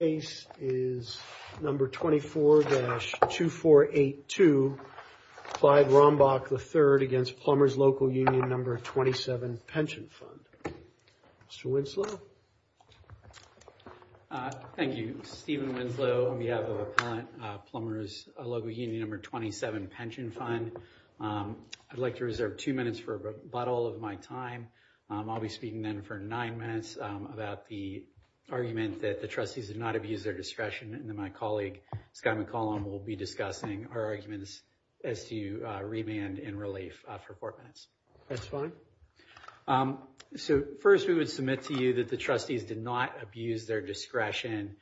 Case is No. 24-2482, Clyde Rombach III v. Plumbers Local Union No. 27 Pension Fund. Mr. Winslow. Thank you. Stephen Winslow on behalf of Appellant Plumbers Local Union No. 27 Pension Fund. I'd like to reserve two minutes for about all of my time. I'll be speaking then for nine minutes about the argument that the trustees did not abuse their discretion and then my colleague Scott McCollum will be discussing our arguments as to remand and relief for four minutes. That's fine. So first we would submit to you that the trustees did not abuse their discretion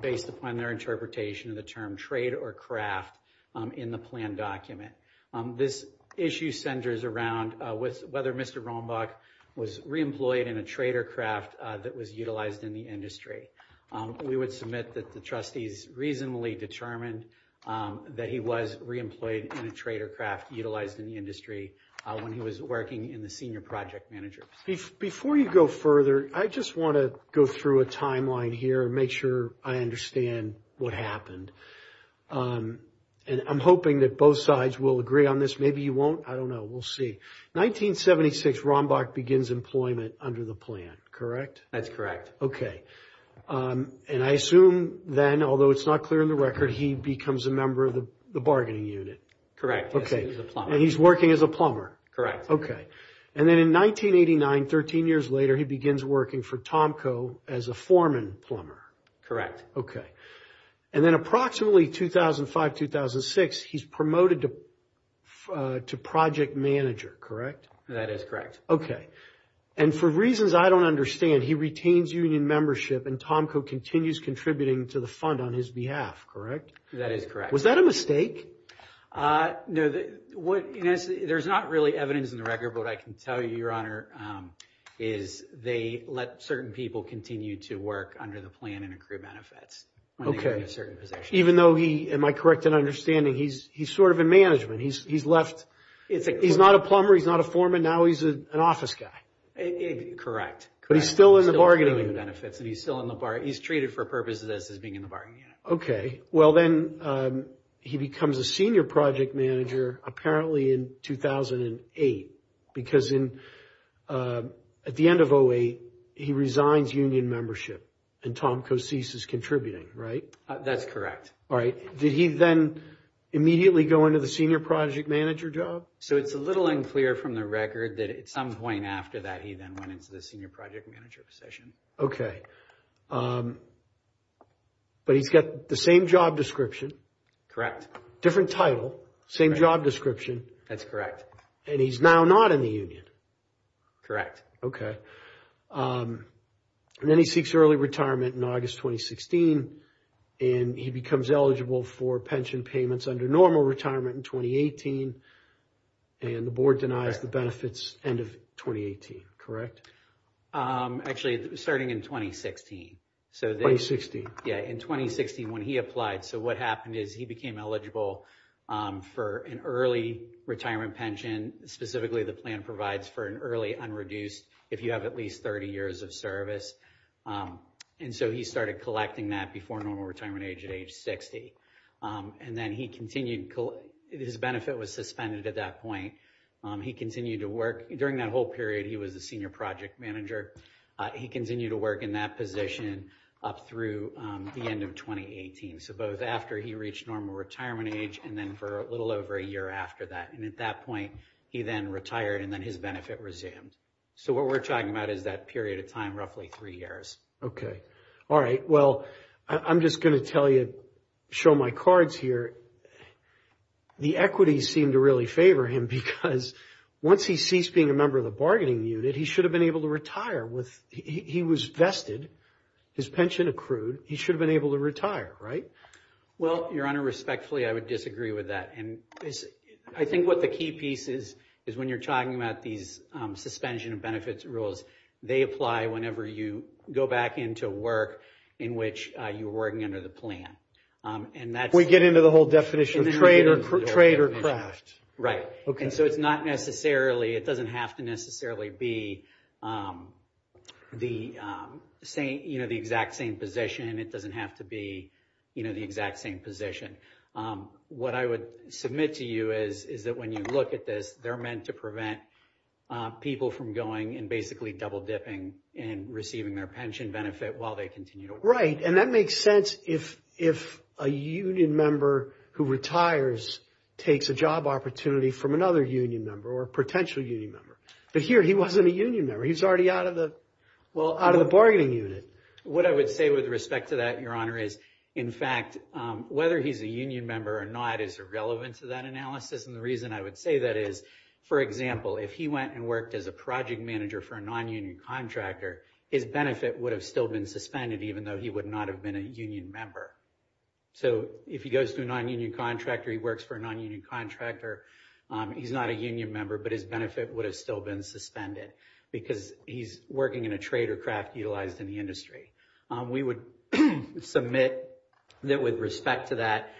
based upon their interpretation of the term trade or craft in the plan document. This issue centers around with whether Mr. Rombach was re-employed in a trade or craft that was utilized in the industry. We would submit that the trustees reasonably determined that he was re-employed in a trade or craft utilized in the industry when he was working in the senior project manager. Before you go further, I just want to go through a timeline here and make sure I understand what happened. I'm hoping that both sides will agree on this. Maybe you won't. I don't know. We'll see. 1976, Rombach begins employment under the plan. Correct? That's correct. Okay. And I assume then, although it's not clear in the record, he becomes a member of the bargaining unit. Correct. Okay. He's working as a plumber. Correct. Okay. And then in 1989, 13 years later, he begins working for Tomco as a foreman plumber. Correct. Okay. And then approximately 2005-2006, he's promoted to project manager. Correct? That is correct. Okay. And for reasons I don't understand, he retains union membership and Tomco continues contributing to the fund on his behalf. Correct? That is correct. Was that a mistake? No. There's not really evidence in the record, but I can tell you, Your Honor, is they let certain people continue to work under the plan and accrue benefits. Okay. Even though he, am I correct in understanding, he's sort of in management. He's not a plumber, he's not a foreman, now he's an office guy. Correct. But he's still in the bargaining. He's still accruing benefits and he's treated for purposes as being in the bargaining unit. Okay. Well, then he becomes a senior project manager apparently in 2008. Because at the end of 2008, he resigns union membership and Tomco ceases contributing, right? That's correct. All right. Did he then immediately go into the senior project manager job? So it's a little unclear from the record that at some point after that, he then went into the senior project manager position. Okay. But he's got the same job description. Correct. Different title, same job description. That's correct. And he's now not in the union. Correct. Okay. And then he seeks early retirement in August, 2016, and he becomes eligible for pension payments under normal retirement in 2018. And the board denies the benefits end of 2018. Correct? Actually, starting in 2016. 2016. Yeah. In 2016 when he applied. So what happened is he became eligible for an early retirement pension. Specifically, the plan provides for an early unreduced if you have at least 30 years of service. And so he started collecting that before normal retirement age at age 60. And then he continued. His benefit was suspended at that point. He continued to work during that whole period. He was a senior project manager. He continued to work in that position up through the end of 2018. So both after he reached normal retirement age and then for a little over a year after that. And at that point, he then retired and then his benefit resumed. So what we're talking about is that period of time, roughly three years. Okay. All right. Well, I'm just going to tell you, show my cards here. The equities seem to really favor him because once he ceased being a member of the bargaining unit, he should have been able to retire. He was vested. His pension accrued. He should have been able to retire. Right? Well, your honor, respectfully, I would disagree with that. And I think what the key piece is, is when you're talking about these suspension of benefits rules, they apply whenever you go back into work in which you were working under the plan. We get into the whole definition of trade or craft. Right. And so it's not necessarily, it doesn't have to necessarily be the exact same position. It doesn't have to be the exact same position. What I would submit to you is, is that when you look at this, they're meant to prevent people from going and basically double dipping and receiving their pension benefit while they Right. And that makes sense if a union member who retires takes a job opportunity from another union member or a potential union member. But here, he wasn't a union member. He's already out of the bargaining unit. What I would say with respect to that, your honor, is, in fact, whether he's a union member or not is irrelevant to that analysis. And the reason I would say that is, for example, if he went and worked as a project manager for a non-union contractor, his benefit would have still been suspended, even though he would not have been a union member. So if he goes to a non-union contractor, he works for a non-union contractor, he's not a union member, but his benefit would have still been suspended because he's working in a trade or craft utilized in the industry. We would submit that with respect to that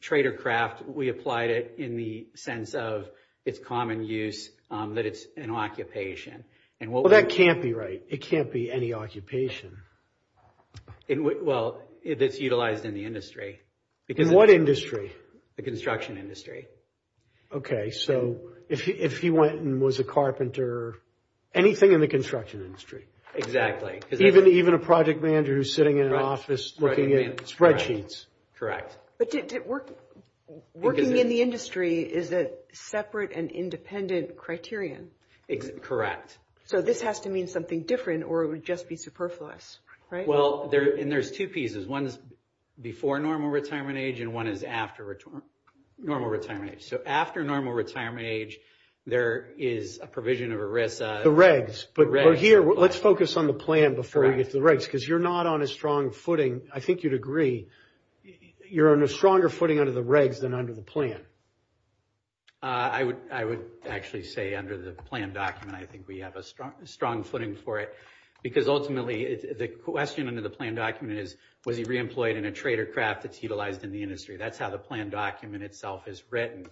trade or craft. We applied it in the sense of its common use, that it's an occupation. Well, that can't be right. It can't be any occupation. Well, if it's utilized in the industry. In what industry? The construction industry. Okay. So if he went and was a carpenter, anything in the construction industry. Exactly. Even a project manager who's sitting in an office looking at spreadsheets. Correct. But working in the industry is a separate and independent criterion. Correct. So this has to mean something different or it would just be superfluous, right? Well, and there's two pieces. One's before normal retirement age and one is after normal retirement age. So after normal retirement age, there is a provision of a risk. The regs. But here, let's focus on the plan before we get to the regs because you're not on a strong footing. I think you'd agree. You're on a stronger footing under the regs than under the plan. I would actually say under the plan document, I think we have a strong footing for it because ultimately the question under the plan document is, was he reemployed in a trade or craft that's utilized in the industry? That's how the plan document itself is written.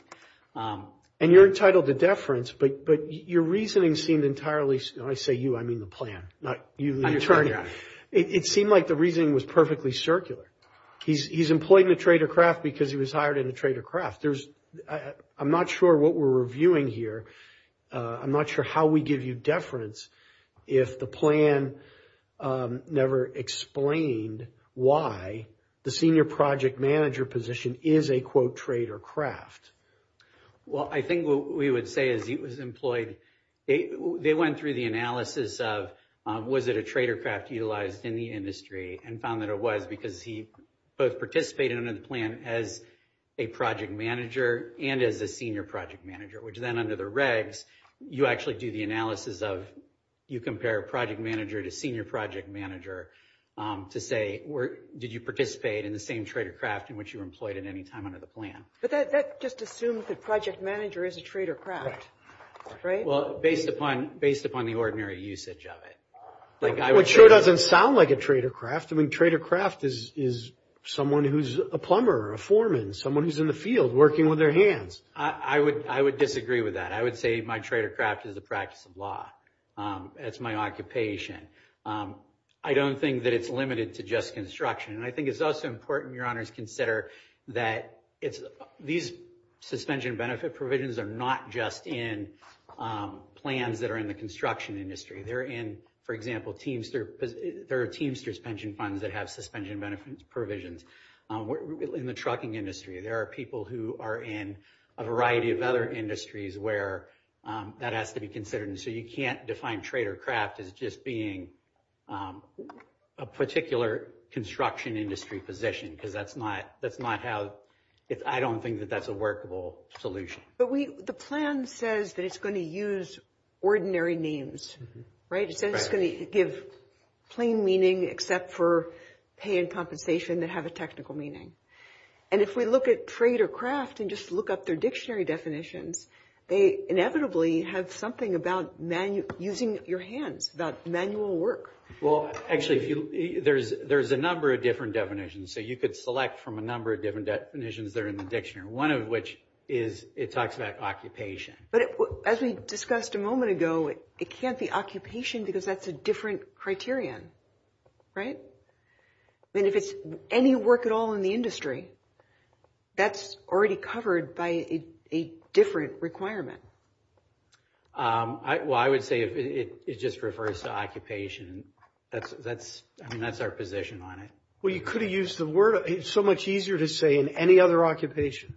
And you're entitled to deference, but your reasoning seemed entirely, when I say you, I mean the plan, not you the attorney. It seemed like the reasoning was perfectly circular. He's employed in a trade or craft because he was hired in a trade or craft. I'm not sure what we're reviewing here. I'm not sure how we give you deference if the plan never explained why the senior project manager position is a quote trade or craft. Well, I think what we would say is he was employed. They went through the analysis of, was it a trade or craft utilized in the industry and found that it was because he both participated under the plan as a project manager and as a senior project manager, which then under the regs, you actually do the analysis of, you compare a project manager to senior project manager to say, did you participate in the same trade or craft in which you were assumed that project manager is a trade or craft, right? Well, based upon the ordinary usage of it. Which sure doesn't sound like a trade or craft. I mean, trade or craft is someone who's a plumber, a foreman, someone who's in the field working with their hands. I would disagree with that. I would say my trade or craft is a practice of law. That's my occupation. I don't think that it's limited to just construction. And I think it's also important. Your honors consider that it's these suspension benefit provisions are not just in plans that are in the construction industry. They're in, for example, teams, there are teams, there's pension funds that have suspension benefits provisions in the trucking industry. There are people who are in a variety of other industries where that has to be considered. So you can't define trade or craft as just being a particular construction industry position, because that's not how, I don't think that that's a workable solution. But the plan says that it's going to use ordinary names, right? It says it's going to give plain meaning except for pay and compensation that have a technical meaning. And if we look at trade or craft and just look up their dictionary definitions, they inevitably have something about using your hands, about manual work. Well, actually, there's a number of different definitions. So you could select from a number of different definitions that are in the dictionary, one of which is it talks about occupation. But as we discussed a moment ago, it can't be occupation because that's a different criterion, right? I mean, if it's any work at all in the industry, that's already covered by a different requirement. Well, I would say it just refers to occupation. That's, I mean, that's our position on it. Well, you could have used the word. It's so much easier to say in any other occupation,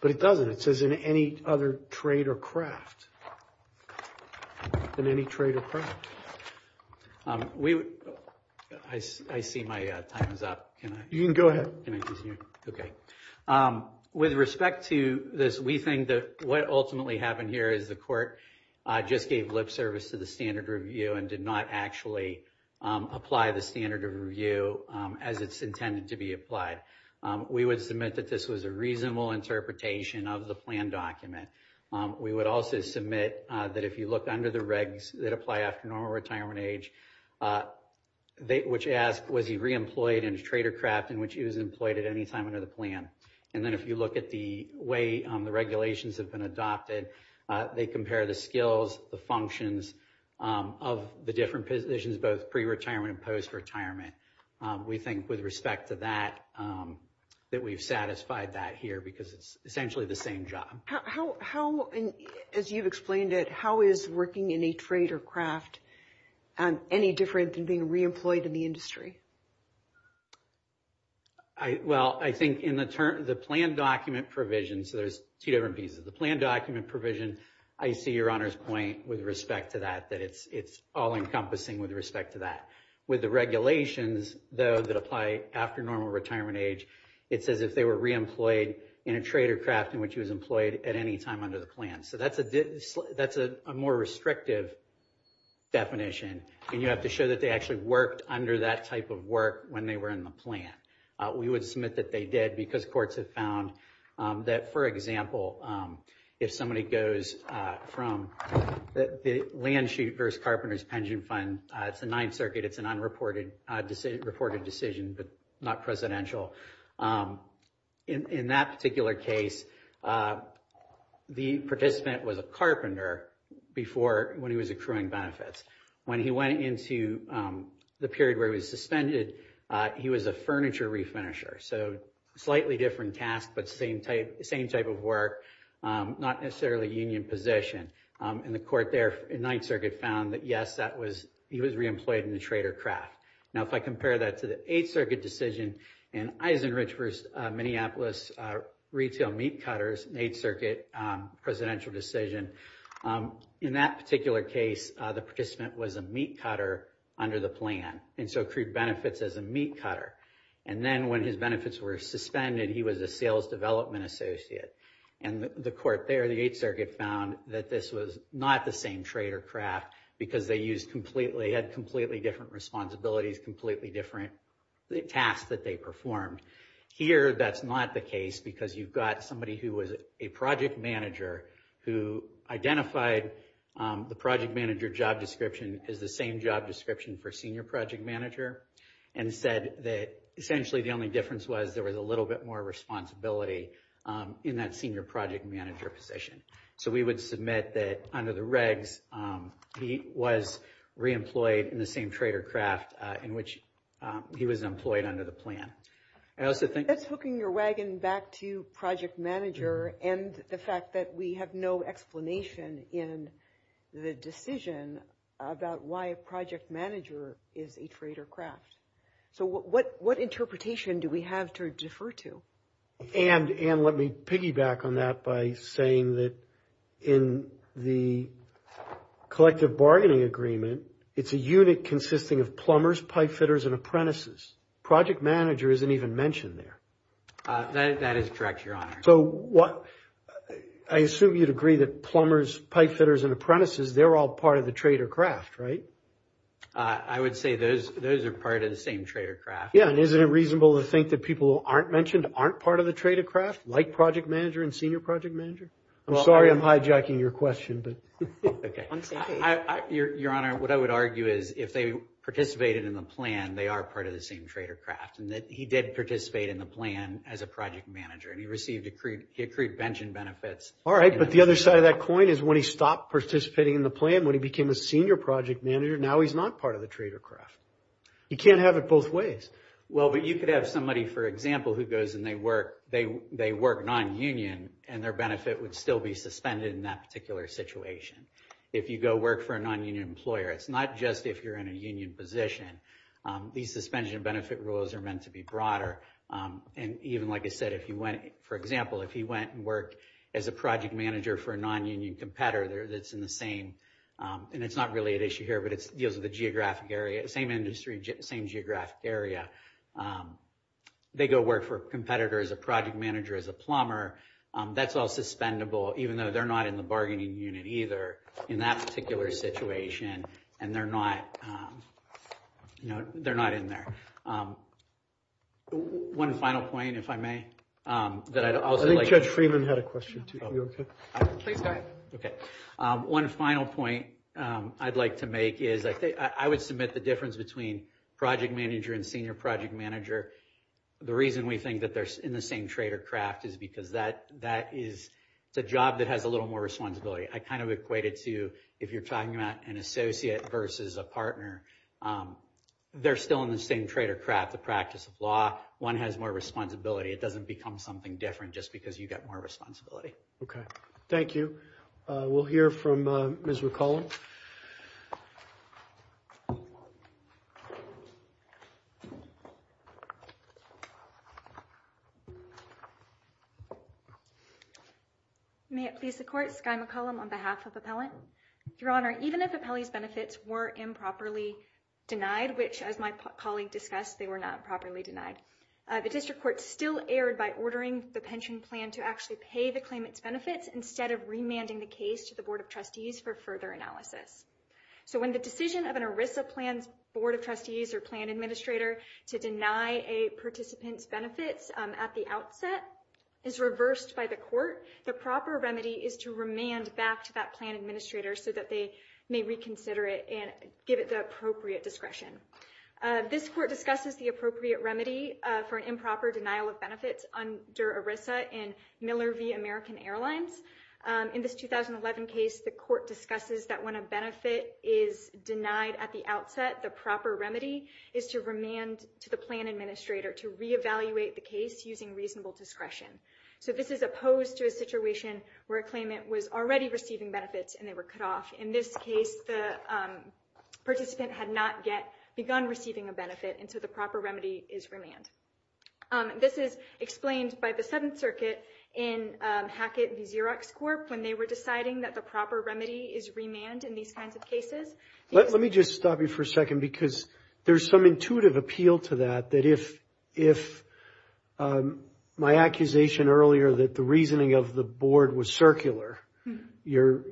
but it doesn't. It says in any other trade or craft, than any trade or craft. I see my time is up. You can go ahead. Okay. With respect to this, we think what ultimately happened here is the court just gave lip service to the standard review and did not actually apply the standard of review as it's intended to be applied. We would submit that this was a reasonable interpretation of the plan document. We would also submit that if you look under the regs that apply after normal retirement age, which asks, was he re-employed in a trade or craft in which he was employed at any time under the plan? And then if you look at way the regulations have been adopted, they compare the skills, the functions of the different positions, both pre-retirement and post-retirement. We think with respect to that, that we've satisfied that here because it's essentially the same job. How, as you've explained it, how is working in a trade or craft any different than being re-employed in the industry? I, well, I think in the term, the plan document provision, so there's two different pieces. The plan document provision, I see your honor's point with respect to that, that it's all encompassing with respect to that. With the regulations, though, that apply after normal retirement age, it's as if they were re-employed in a trade or craft in which he was employed at any time under the plan. So that's a more restrictive definition. And you have to show that they actually worked under that type of work when they were in the plan. We would submit that they did because courts have found that, for example, if somebody goes from the land sheet versus carpenters pension fund, it's the Ninth Circuit, it's an unreported decision, but not presidential. In that particular case, the participant was a carpenter before when he was When he went into the period where he was suspended, he was a furniture refinisher, so slightly different task, but same type, same type of work, not necessarily union position. And the court there in Ninth Circuit found that, yes, that was, he was re-employed in the trade or craft. Now, if I compare that to the Eighth Circuit decision and Eisenrich versus Minneapolis retail meat cutters, Eighth Circuit presidential decision, in that particular case, the participant was a meat cutter under the plan, and so accrued benefits as a meat cutter. And then when his benefits were suspended, he was a sales development associate. And the court there, the Eighth Circuit found that this was not the same trade or craft because they used completely, had completely different responsibilities, completely different tasks that they performed. Here, that's not the case because you've got somebody who was a project manager who identified the project manager job description as the same job description for senior project manager, and said that essentially the only difference was there was a little bit more responsibility in that senior project manager position. So we would submit that under the regs, he was re-employed in the same trade or craft in which he was employed under the plan. I also think... That's hooking your wagon back to project manager and the fact that we have no explanation in the decision about why a project manager is a trade or craft. So what interpretation do we have to defer to? And let me piggyback on that by saying that in the collective bargaining agreement, it's a unit consisting of plumbers, pipe fitters, and apprentices. Project manager isn't even mentioned there. That is correct, Your Honor. So what... I assume you'd agree that plumbers, pipe fitters, and apprentices, they're all part of the trade or craft, right? I would say those are part of the same trade or craft. Yeah. And isn't it reasonable to think that people who aren't mentioned aren't part of the trade or craft, like project manager and senior project manager? I'm sorry I'm hijacking your question. Okay. Your Honor, what I would argue is if they participated in the plan, they are part of the same trade or craft and that he did participate in the plan as a project manager and he received accrued pension benefits. All right. But the other side of that coin is when he stopped participating in the plan, when he became a senior project manager, now he's not part of the trade or craft. He can't have it both ways. Well, but you could have somebody, for example, who goes and they work non-union and their benefit would still be suspended in that situation. If you go work for a non-union employer, it's not just if you're in a union position. These suspension benefit rules are meant to be broader. And even, like I said, if he went, for example, if he went and worked as a project manager for a non-union competitor that's in the same, and it's not really an issue here, but it deals with the geographic area, the same industry, same geographic area. They go work for a competitor as a project manager, as a plumber, that's all suspendable, even though they're not in the bargaining unit either in that particular situation. And they're not, you know, they're not in there. One final point, if I may, that I'd also like... I think Judge Freeman had a question too. Are you okay? Please go ahead. Okay. One final point I'd like to make is I think I would submit the difference between project manager and senior project manager. The reason we think that they're in the same trade or craft is because that is the job that has a little more responsibility. I kind of equate it to, if you're talking about an associate versus a partner, they're still in the same trade or craft, the practice of law. One has more responsibility. It doesn't become something different just because you get more responsibility. Okay. Thank you. We'll hear from Ms. McCollum. May it please the Court, Skye McCollum on behalf of Appellant. Your Honor, even if Appellee's benefits were improperly denied, which as my colleague discussed, they were not properly denied, the District Court still erred by ordering the pension plan to actually pay the claimant's benefits instead of remanding the case to the Board of Trustees for further analysis. So when the decision of an ERISA plan's Board of Trustees or plan administrator to deny a participant's benefits at the outset is reversed by the Court, the proper remedy is to remand back to that plan administrator so that they may reconsider it and give it the appropriate discretion. This Court discusses the appropriate remedy for an improper denial of benefits under ERISA in Miller v. American Airlines. In this 2011 case, the Court discusses that when a benefit is denied at the outset, the proper remedy is to remand to the plan administrator to reevaluate the case using reasonable discretion. So this is opposed to a situation where a claimant was already receiving benefits and they were cut off. In this case, the participant had not yet begun receiving a benefit, and so the proper remedy is remand. This is explained by the Seventh Circuit in Hackett v. Xerox Corp. when they were deciding that the proper remedy is remand in these kinds of cases. Let me just stop you for a second because there's some intuitive appeal to that, that if my accusation earlier that the reasoning of the Board was circular, you're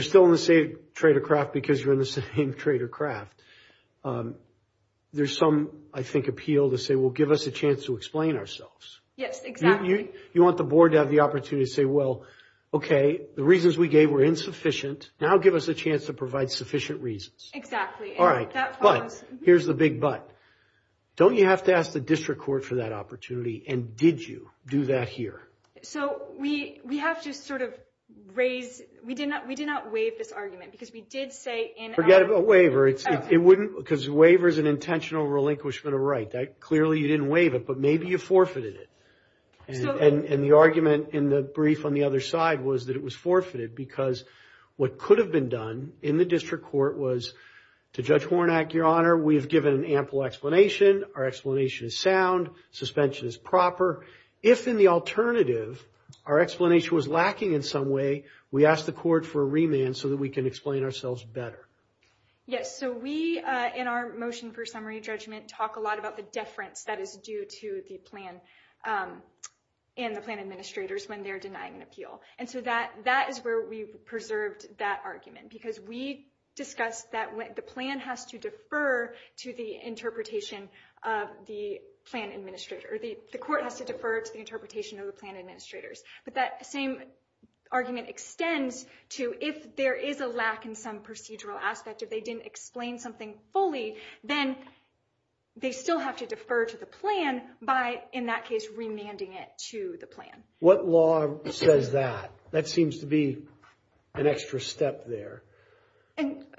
still in the same trade of craft because you're in the same trade of craft. There's some, I think, appeal to say, well, give us a chance to explain ourselves. Yes, exactly. You want the Board to have the opportunity to say, well, okay, the reasons we gave were insufficient. Now give us a chance to provide sufficient reasons. All right, but here's the big but. Don't you have to ask the District Court for that opportunity, and did you do that here? So we have to sort of raise, we did not waive this argument because we did say in- You got a waiver. It wouldn't, because a waiver is an intentional relinquishment of right. Clearly, you didn't waive it, but maybe you forfeited it, and the argument in the brief on the other side was that it was forfeited because what could have been done in the District Court was to Judge Hornack, Your Honor, we have given an ample explanation. Our explanation is sound. Suspension is proper. If in the alternative, our explanation was lacking in some way, we asked the Court for a remand so that we can explain ourselves better. Yes, so we, in our motion for summary judgment, talk a lot about the deference that is due to the plan and the plan administrators when they're denying an appeal, and so that is where we preserved that argument because we discussed that the plan has to defer to the interpretation of the plan administrator. The Court has to defer to the interpretation of the plan administrators, but that same argument extends to if there is a lack in some procedural aspect, if they didn't explain something fully, then they still have to defer to the plan by, in that case, remanding it to the plan. What law says that? That seems to be an extra step there.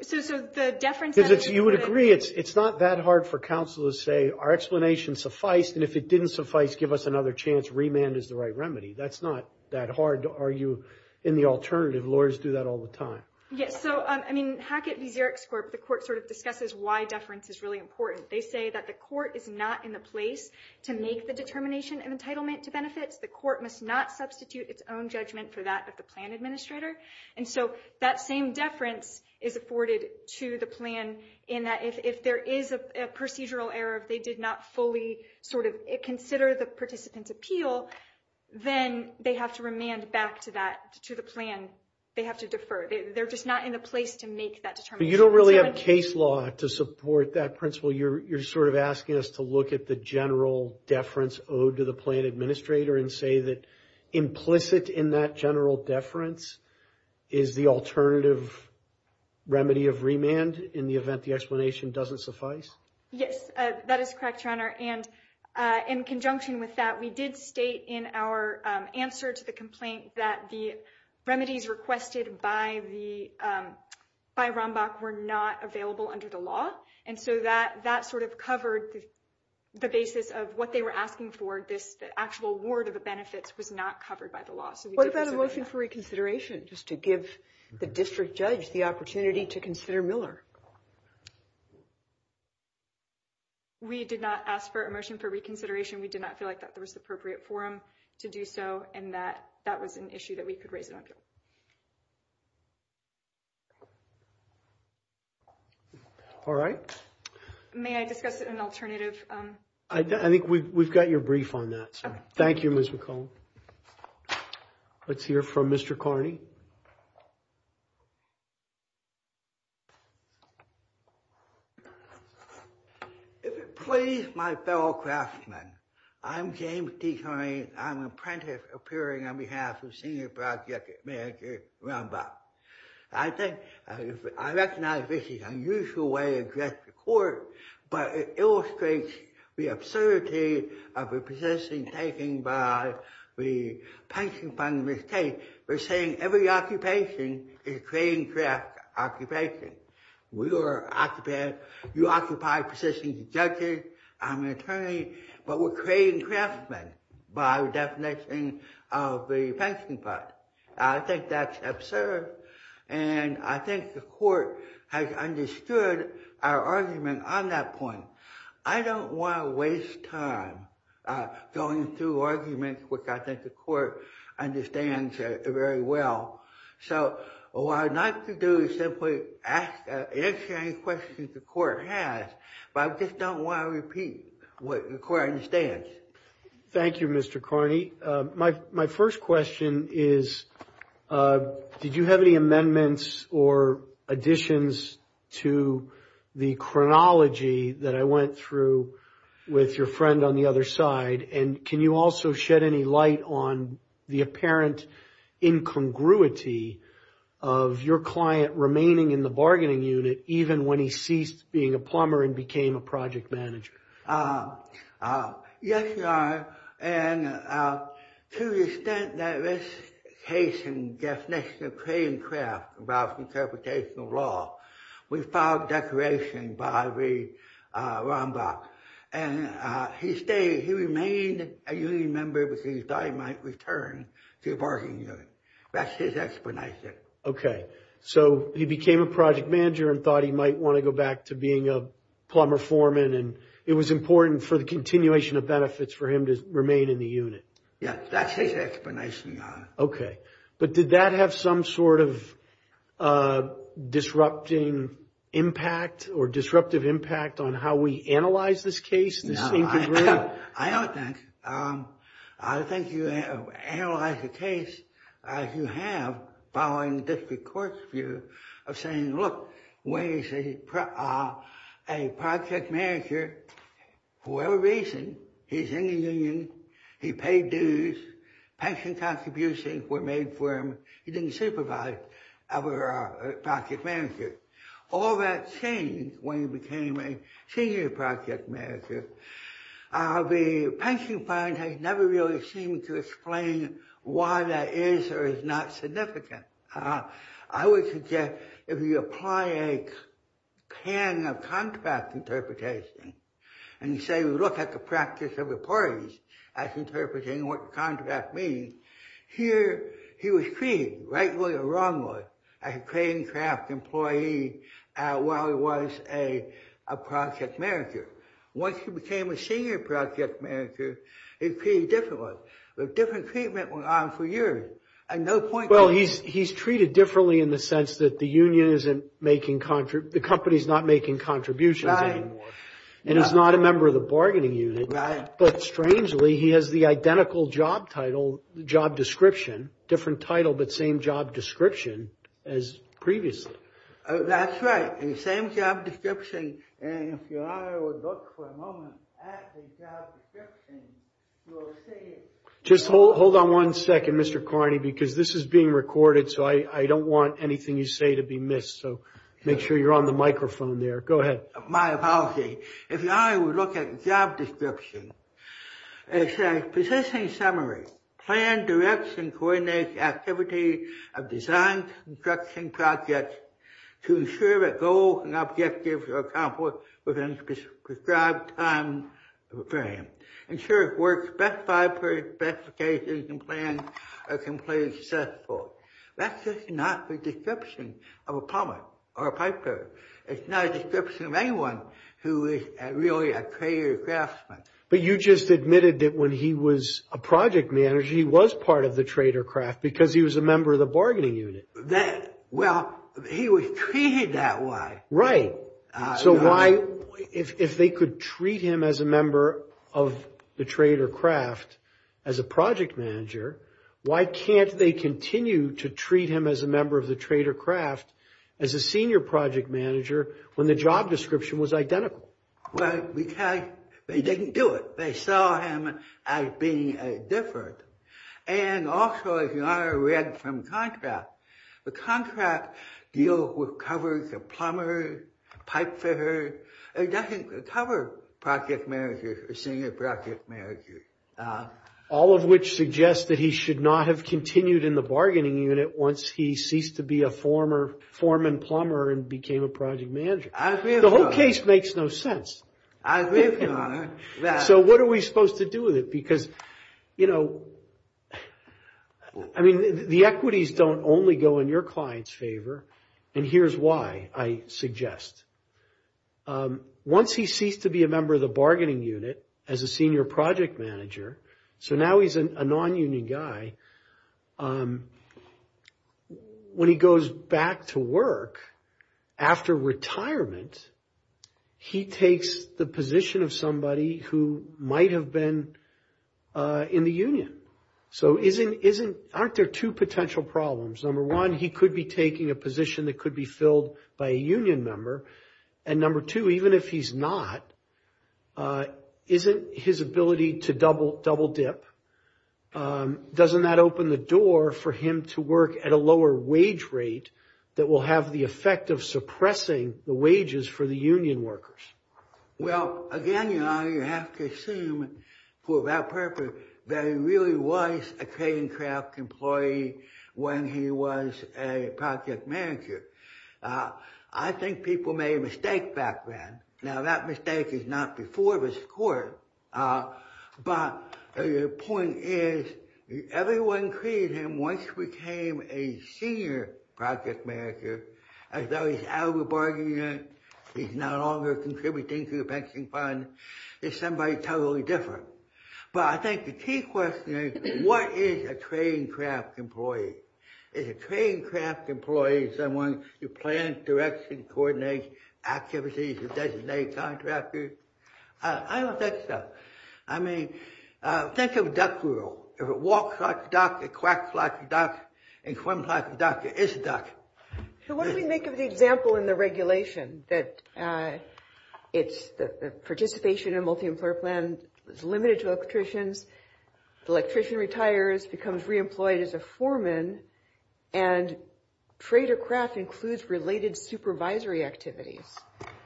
So the deference- You would agree it's not that hard for counsel to say, our explanation sufficed, and if it didn't suffice, give us another chance. Remand is the right remedy. That's not that hard to argue in the alternative. Lawyers do that all the time. Yes, so, I mean, Hackett v. Xerox Corp., the Court sort of discusses why deference is really important. They say that the Court is not in the place to make the determination of entitlement to benefits. The Court must not substitute its own judgment for that of the plan administrator, and so that same deference is afforded to the plan in that if there is a procedural error, they did not fully sort of consider the participant's appeal, then they have to remand back to the plan. They have to defer. They're just not in the place to make that determination. But you don't really have case law to support that principle. You're sort of asking us to look at the general deference owed to the plan administrator and say that implicit in that general deference is the alternative remedy of remand in the event the explanation doesn't suffice? Yes, that is correct, Your Honor, and in conjunction with that, we did state in our answer to the complaint that the remedies requested by Rombach were not available under the law, and so that sort of covered the basis of what they were asking for. The actual award of the benefits was not covered by the law. What about a motion for reconsideration, just to give the district judge the opportunity to consider Miller? We did not ask for a motion for reconsideration. We did not feel like that was the appropriate forum to do so, and that was an issue that we could raise an appeal. All right. May I discuss an alternative? I think we've got your brief on that, Thank you, Ms. McComb. Let's hear from Mr. Carney. If it please my fellow craftsmen, I'm James D. Carney. I'm an apprentice appearing on behalf of Senior Project Manager Rombach. I recognize this is an unusual way to address the court, but it illustrates the absurdity of the position taken by the pension fund in this case. They're saying every occupation is creating craft occupation. You occupy positions of judges, I'm an attorney, but we're creating craftsmen by definition of the pension fund. I think that's absurd, and I think the court has understood our argument on that point. I don't want to waste time going through arguments, which I think the court understands very well. So what I'd like to do is simply answer any questions the court has, but I just don't want to repeat what the court understands. Thank you, Mr. Carney. My first question is, did you have any amendments or additions to the chronology that I went through with your friend on the other side? And can you also shed any light on the apparent incongruity of your client remaining in the bargaining unit, even when he ceased being a plumber and became a project manager? Yes, Your Honor, and to the extent that this case and definition of creating craft involves interpretation of law, we filed declaration by the Rombach, and he stayed. He remained a union member because he thought he might return to the bargaining unit. That's his explanation. Okay, so he became a project manager and thought he might want to go back to being a plumber foreman, and it was important for the continuation of benefits for him to remain in the unit. Yes, that's his explanation, Your Honor. Okay, but did that have some sort of disrupting impact or disruptive impact on how we analyze this case, this incongruity? No, I don't think. I think you analyze the case as you have following district court's view of saying, look, Wayne is a project manager for whatever reason. He's in the union. He paid dues. Pension contributions were made for him. He didn't supervise other project managers. All that changed when he became a senior project manager. The pension fund has never really seemed to explain why that is or is not significant. I would suggest if you apply a pan of contract interpretation and say, look at the practice of the parties as interpreting what contract means, here he was treated, right way or wrong way, as a creating craft employee while he was a project manager. Once he became a senior project manager, it's pretty different. A different treatment went on for years. Well, he's treated differently in the sense that the union isn't making, the company's not making contributions anymore, and he's not a member of the bargaining unit, but strangely he has the identical job title, job description, different title, but same job description as previously. That's right. The same job description. And if your honor would look for a moment at the job description, you will see it. Just hold on one second, Mr. Carney, because this is being recorded. So I don't want anything you say to be missed. So make sure you're on the microphone there. Go ahead. My apology. If your honor would look at the job description, it says, positioning summary, plan, direction, coordinate, activity of design, construction, project, to ensure that goals and objectives are accomplished within the prescribed time frame. Ensure it works best by the specifications and plans are completely successful. That's just not the description of a plumber or a piper. It's not a description of anyone who is really a trader craftsman. But you just admitted that when he was a project manager, he was part of the trader craft because he was a member of the bargaining unit. Well, he was treated that way. Right. So why, if they could treat him as a member of the trader craft as a project manager, why can't they continue to treat him as a member of the trader craft as a senior project manager when the job description was identical? Well, because they didn't do it. They saw him as being a different. And also, if your honor read from the contract, the contract deals with covers of plumbers, pipefitters. It doesn't cover project managers or senior project managers. All of which suggests that he should not have continued in the bargaining unit once he ceased to be a former foreman plumber and became a project manager. The whole case makes no sense. So what are we supposed to do with it? Because, you know, I mean, the equities don't only go in your client's favor. And here's why I suggest. Once he ceased to be a member of the bargaining unit as a senior project manager. So now he's a non-union guy. When he goes back to work after retirement, he takes the position of somebody who might have been in the union. So aren't there two potential problems? Number one, he could be taking a position that could be filled by a union member. And number two, even if he's not, isn't his ability to double dip? Doesn't that open the door for him to work at a lower wage rate that will have the effect of suppressing the wages for the union workers? Well, again, your honor, you have to assume for that purpose that he really was a Caincraft employee when he was a project manager. I think people made a mistake back then. Now that mistake is not before this court. But the point is, everyone created him once he became a senior project manager. As though he's out of the bargaining unit. He's no longer contributing to the pension fund. He's somebody totally different. But I think the key question is, what is a Caincraft employee? Is a Caincraft employee someone who plans, directs, and coordinates activities and designates contractors? I don't think so. I mean, think of a duck rule. If it walks like a duck, it quacks like a duck, and quacks like a duck, it is a duck. So what do we make of the example in the regulation that it's the participation in a multi-employer plan is limited to electricians. The electrician retires, becomes re-employed as a foreman, and trade or craft includes related supervisory activities.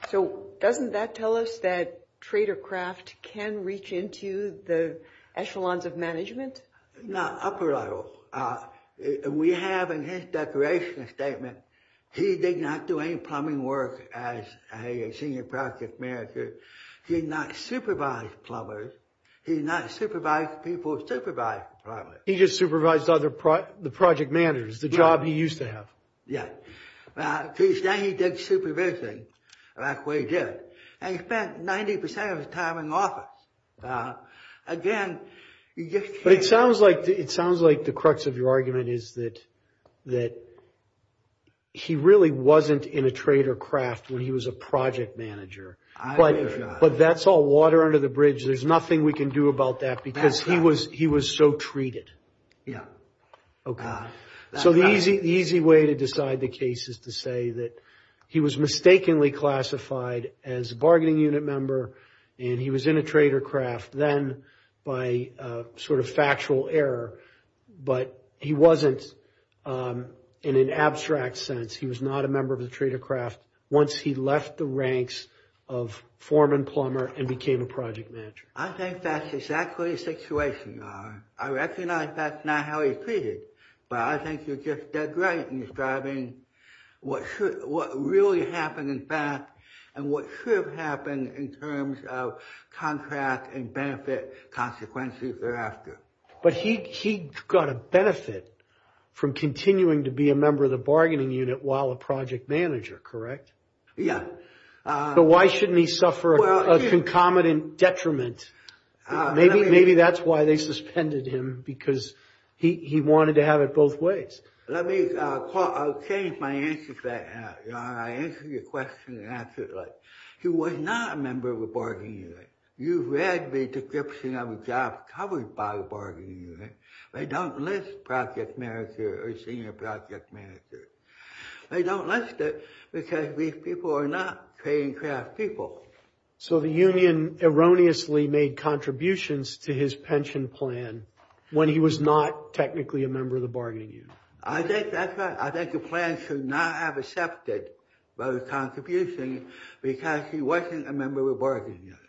So doesn't that tell us that trade or craft can reach into the echelons of management? Now, upper level. We have in his declaration statement, he did not do any plumbing work as a senior project manager. He did not supervise plumbers. He did not supervise people supervising plumbers. He just supervised the project managers, the job he used to have. Yeah. So he said he did supervising, and that's what he did. And he spent 90% of his time in office. Again, you just can't... But it sounds like the crux of your argument is that he really wasn't in a trade or craft when he was a project manager. I wish I was. But that's all water under the bridge. There's nothing we can do about that because he was so treated. Yeah. Okay. So the easy way to decide the case is to say that he was mistakenly classified as a bargaining unit member, and he was in a trade or craft then by sort of factual error, but he wasn't in an abstract sense. He was not a member of the trade or craft once he left the ranks of foreman plumber and became a project manager. I think that's exactly the situation, Ron. I recognize that's not how he treated, but I think you're just dead right in describing what really happened, in fact, and what should have happened in terms of contract and benefit consequences thereafter. But he got a benefit from continuing to be a member of the bargaining unit while a project manager. Maybe that's why they suspended him because he wanted to have it both ways. Let me change my answer to that, Ron. I'll answer your question and answer it like, he was not a member of the bargaining unit. You've read the description of a job covered by the bargaining unit. They don't list project manager or senior project manager. They don't list it because these people are not trade and craft people. So the union erroneously made contributions to his pension plan when he was not technically a member of the bargaining unit. I think that's right. I think the plan should not have accepted those contributions because he wasn't a member of the bargaining unit.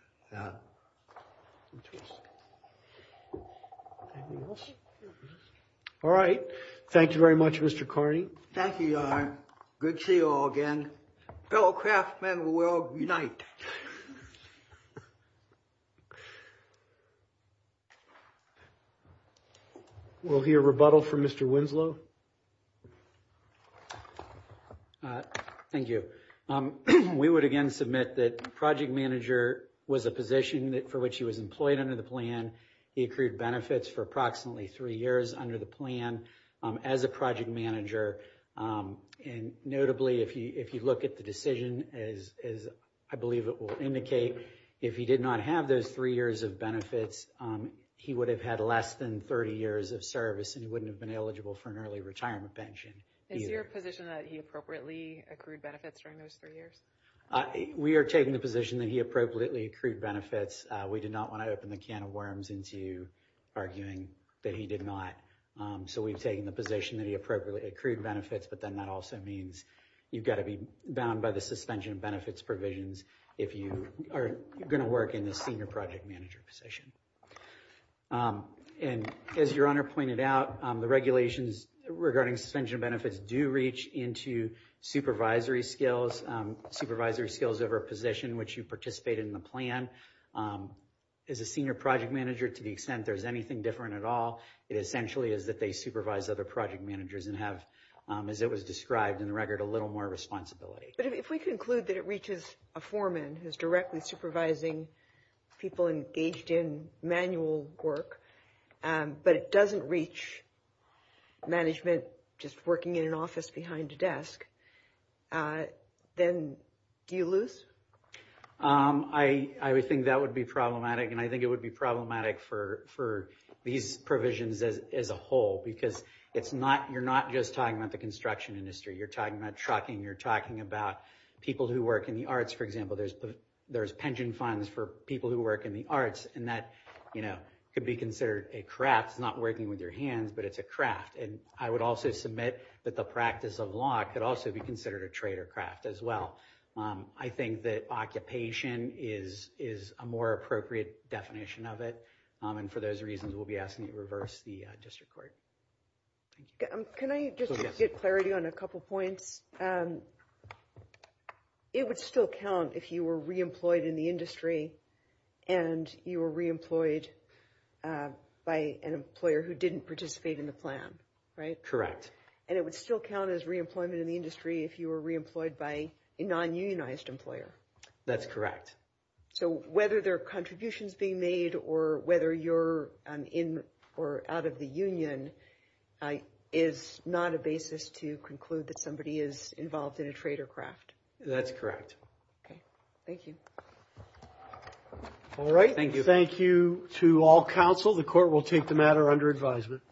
All right. Thank you very much, Mr. Carney. Thank you, John. Good to see you all again. Fellow craftsmen will unite. We'll hear rebuttal from Mr. Winslow. Thank you. We would again submit that project manager was a position for which he was employed under the plan. He accrued benefits for approximately three years under the plan as a project manager. And notably, if you look at the decision, as I believe it will indicate, if he did not have those three years of benefits, he would have had less than 30 years of service and he wouldn't have been eligible for an early retirement pension. Is your position that he appropriately accrued benefits during those three years? We are taking the position that he appropriately accrued benefits. We did not want to open the can of worms into arguing that he did not. So we've taken the position that he appropriately accrued benefits, but then that also means you've got to be bound by the suspension of benefits provisions if you are going to work in the senior project manager position. And as your honor pointed out, the regulations regarding suspension of benefits do reach into supervisory skills, supervisory skills over a position in which you participate in the plan. As a senior project manager, to the extent there's anything different at all, it essentially is that they supervise other project managers and have, as it was described in the record, a little more responsibility. But if we conclude that it reaches a foreman who's directly supervising people engaged in manual work, but it doesn't reach management just working in an office behind a desk, then do you lose? I would think that would be problematic, and I think it would be problematic for these provisions as a whole, because it's not, you're not just talking about the construction industry, you're talking about trucking, you're talking about people who work in the arts, for example. There's pension funds for people who work in the arts, and that, you know, could be considered a craft. It's not working with your hands, but it's a craft. And I would also submit that the practice of law could also be considered a trade or craft as well. I think that occupation is a more appropriate definition of it, and for those reasons we'll be asking you to reverse the district court. Can I just get clarity on a couple points? It would still count if you were re-employed in the industry, and you were re-employed by an employer who didn't participate in the plan, right? Correct. And it would still count as re-employment in the industry if you were re-employed by a non-unionized employer? That's correct. So whether there are contributions being made, or whether you're in or out of the union, is not a basis to conclude that somebody is involved in a trade or craft? That's correct. Okay, thank you. All right, thank you to all counsel. The court will take the matter under advisement.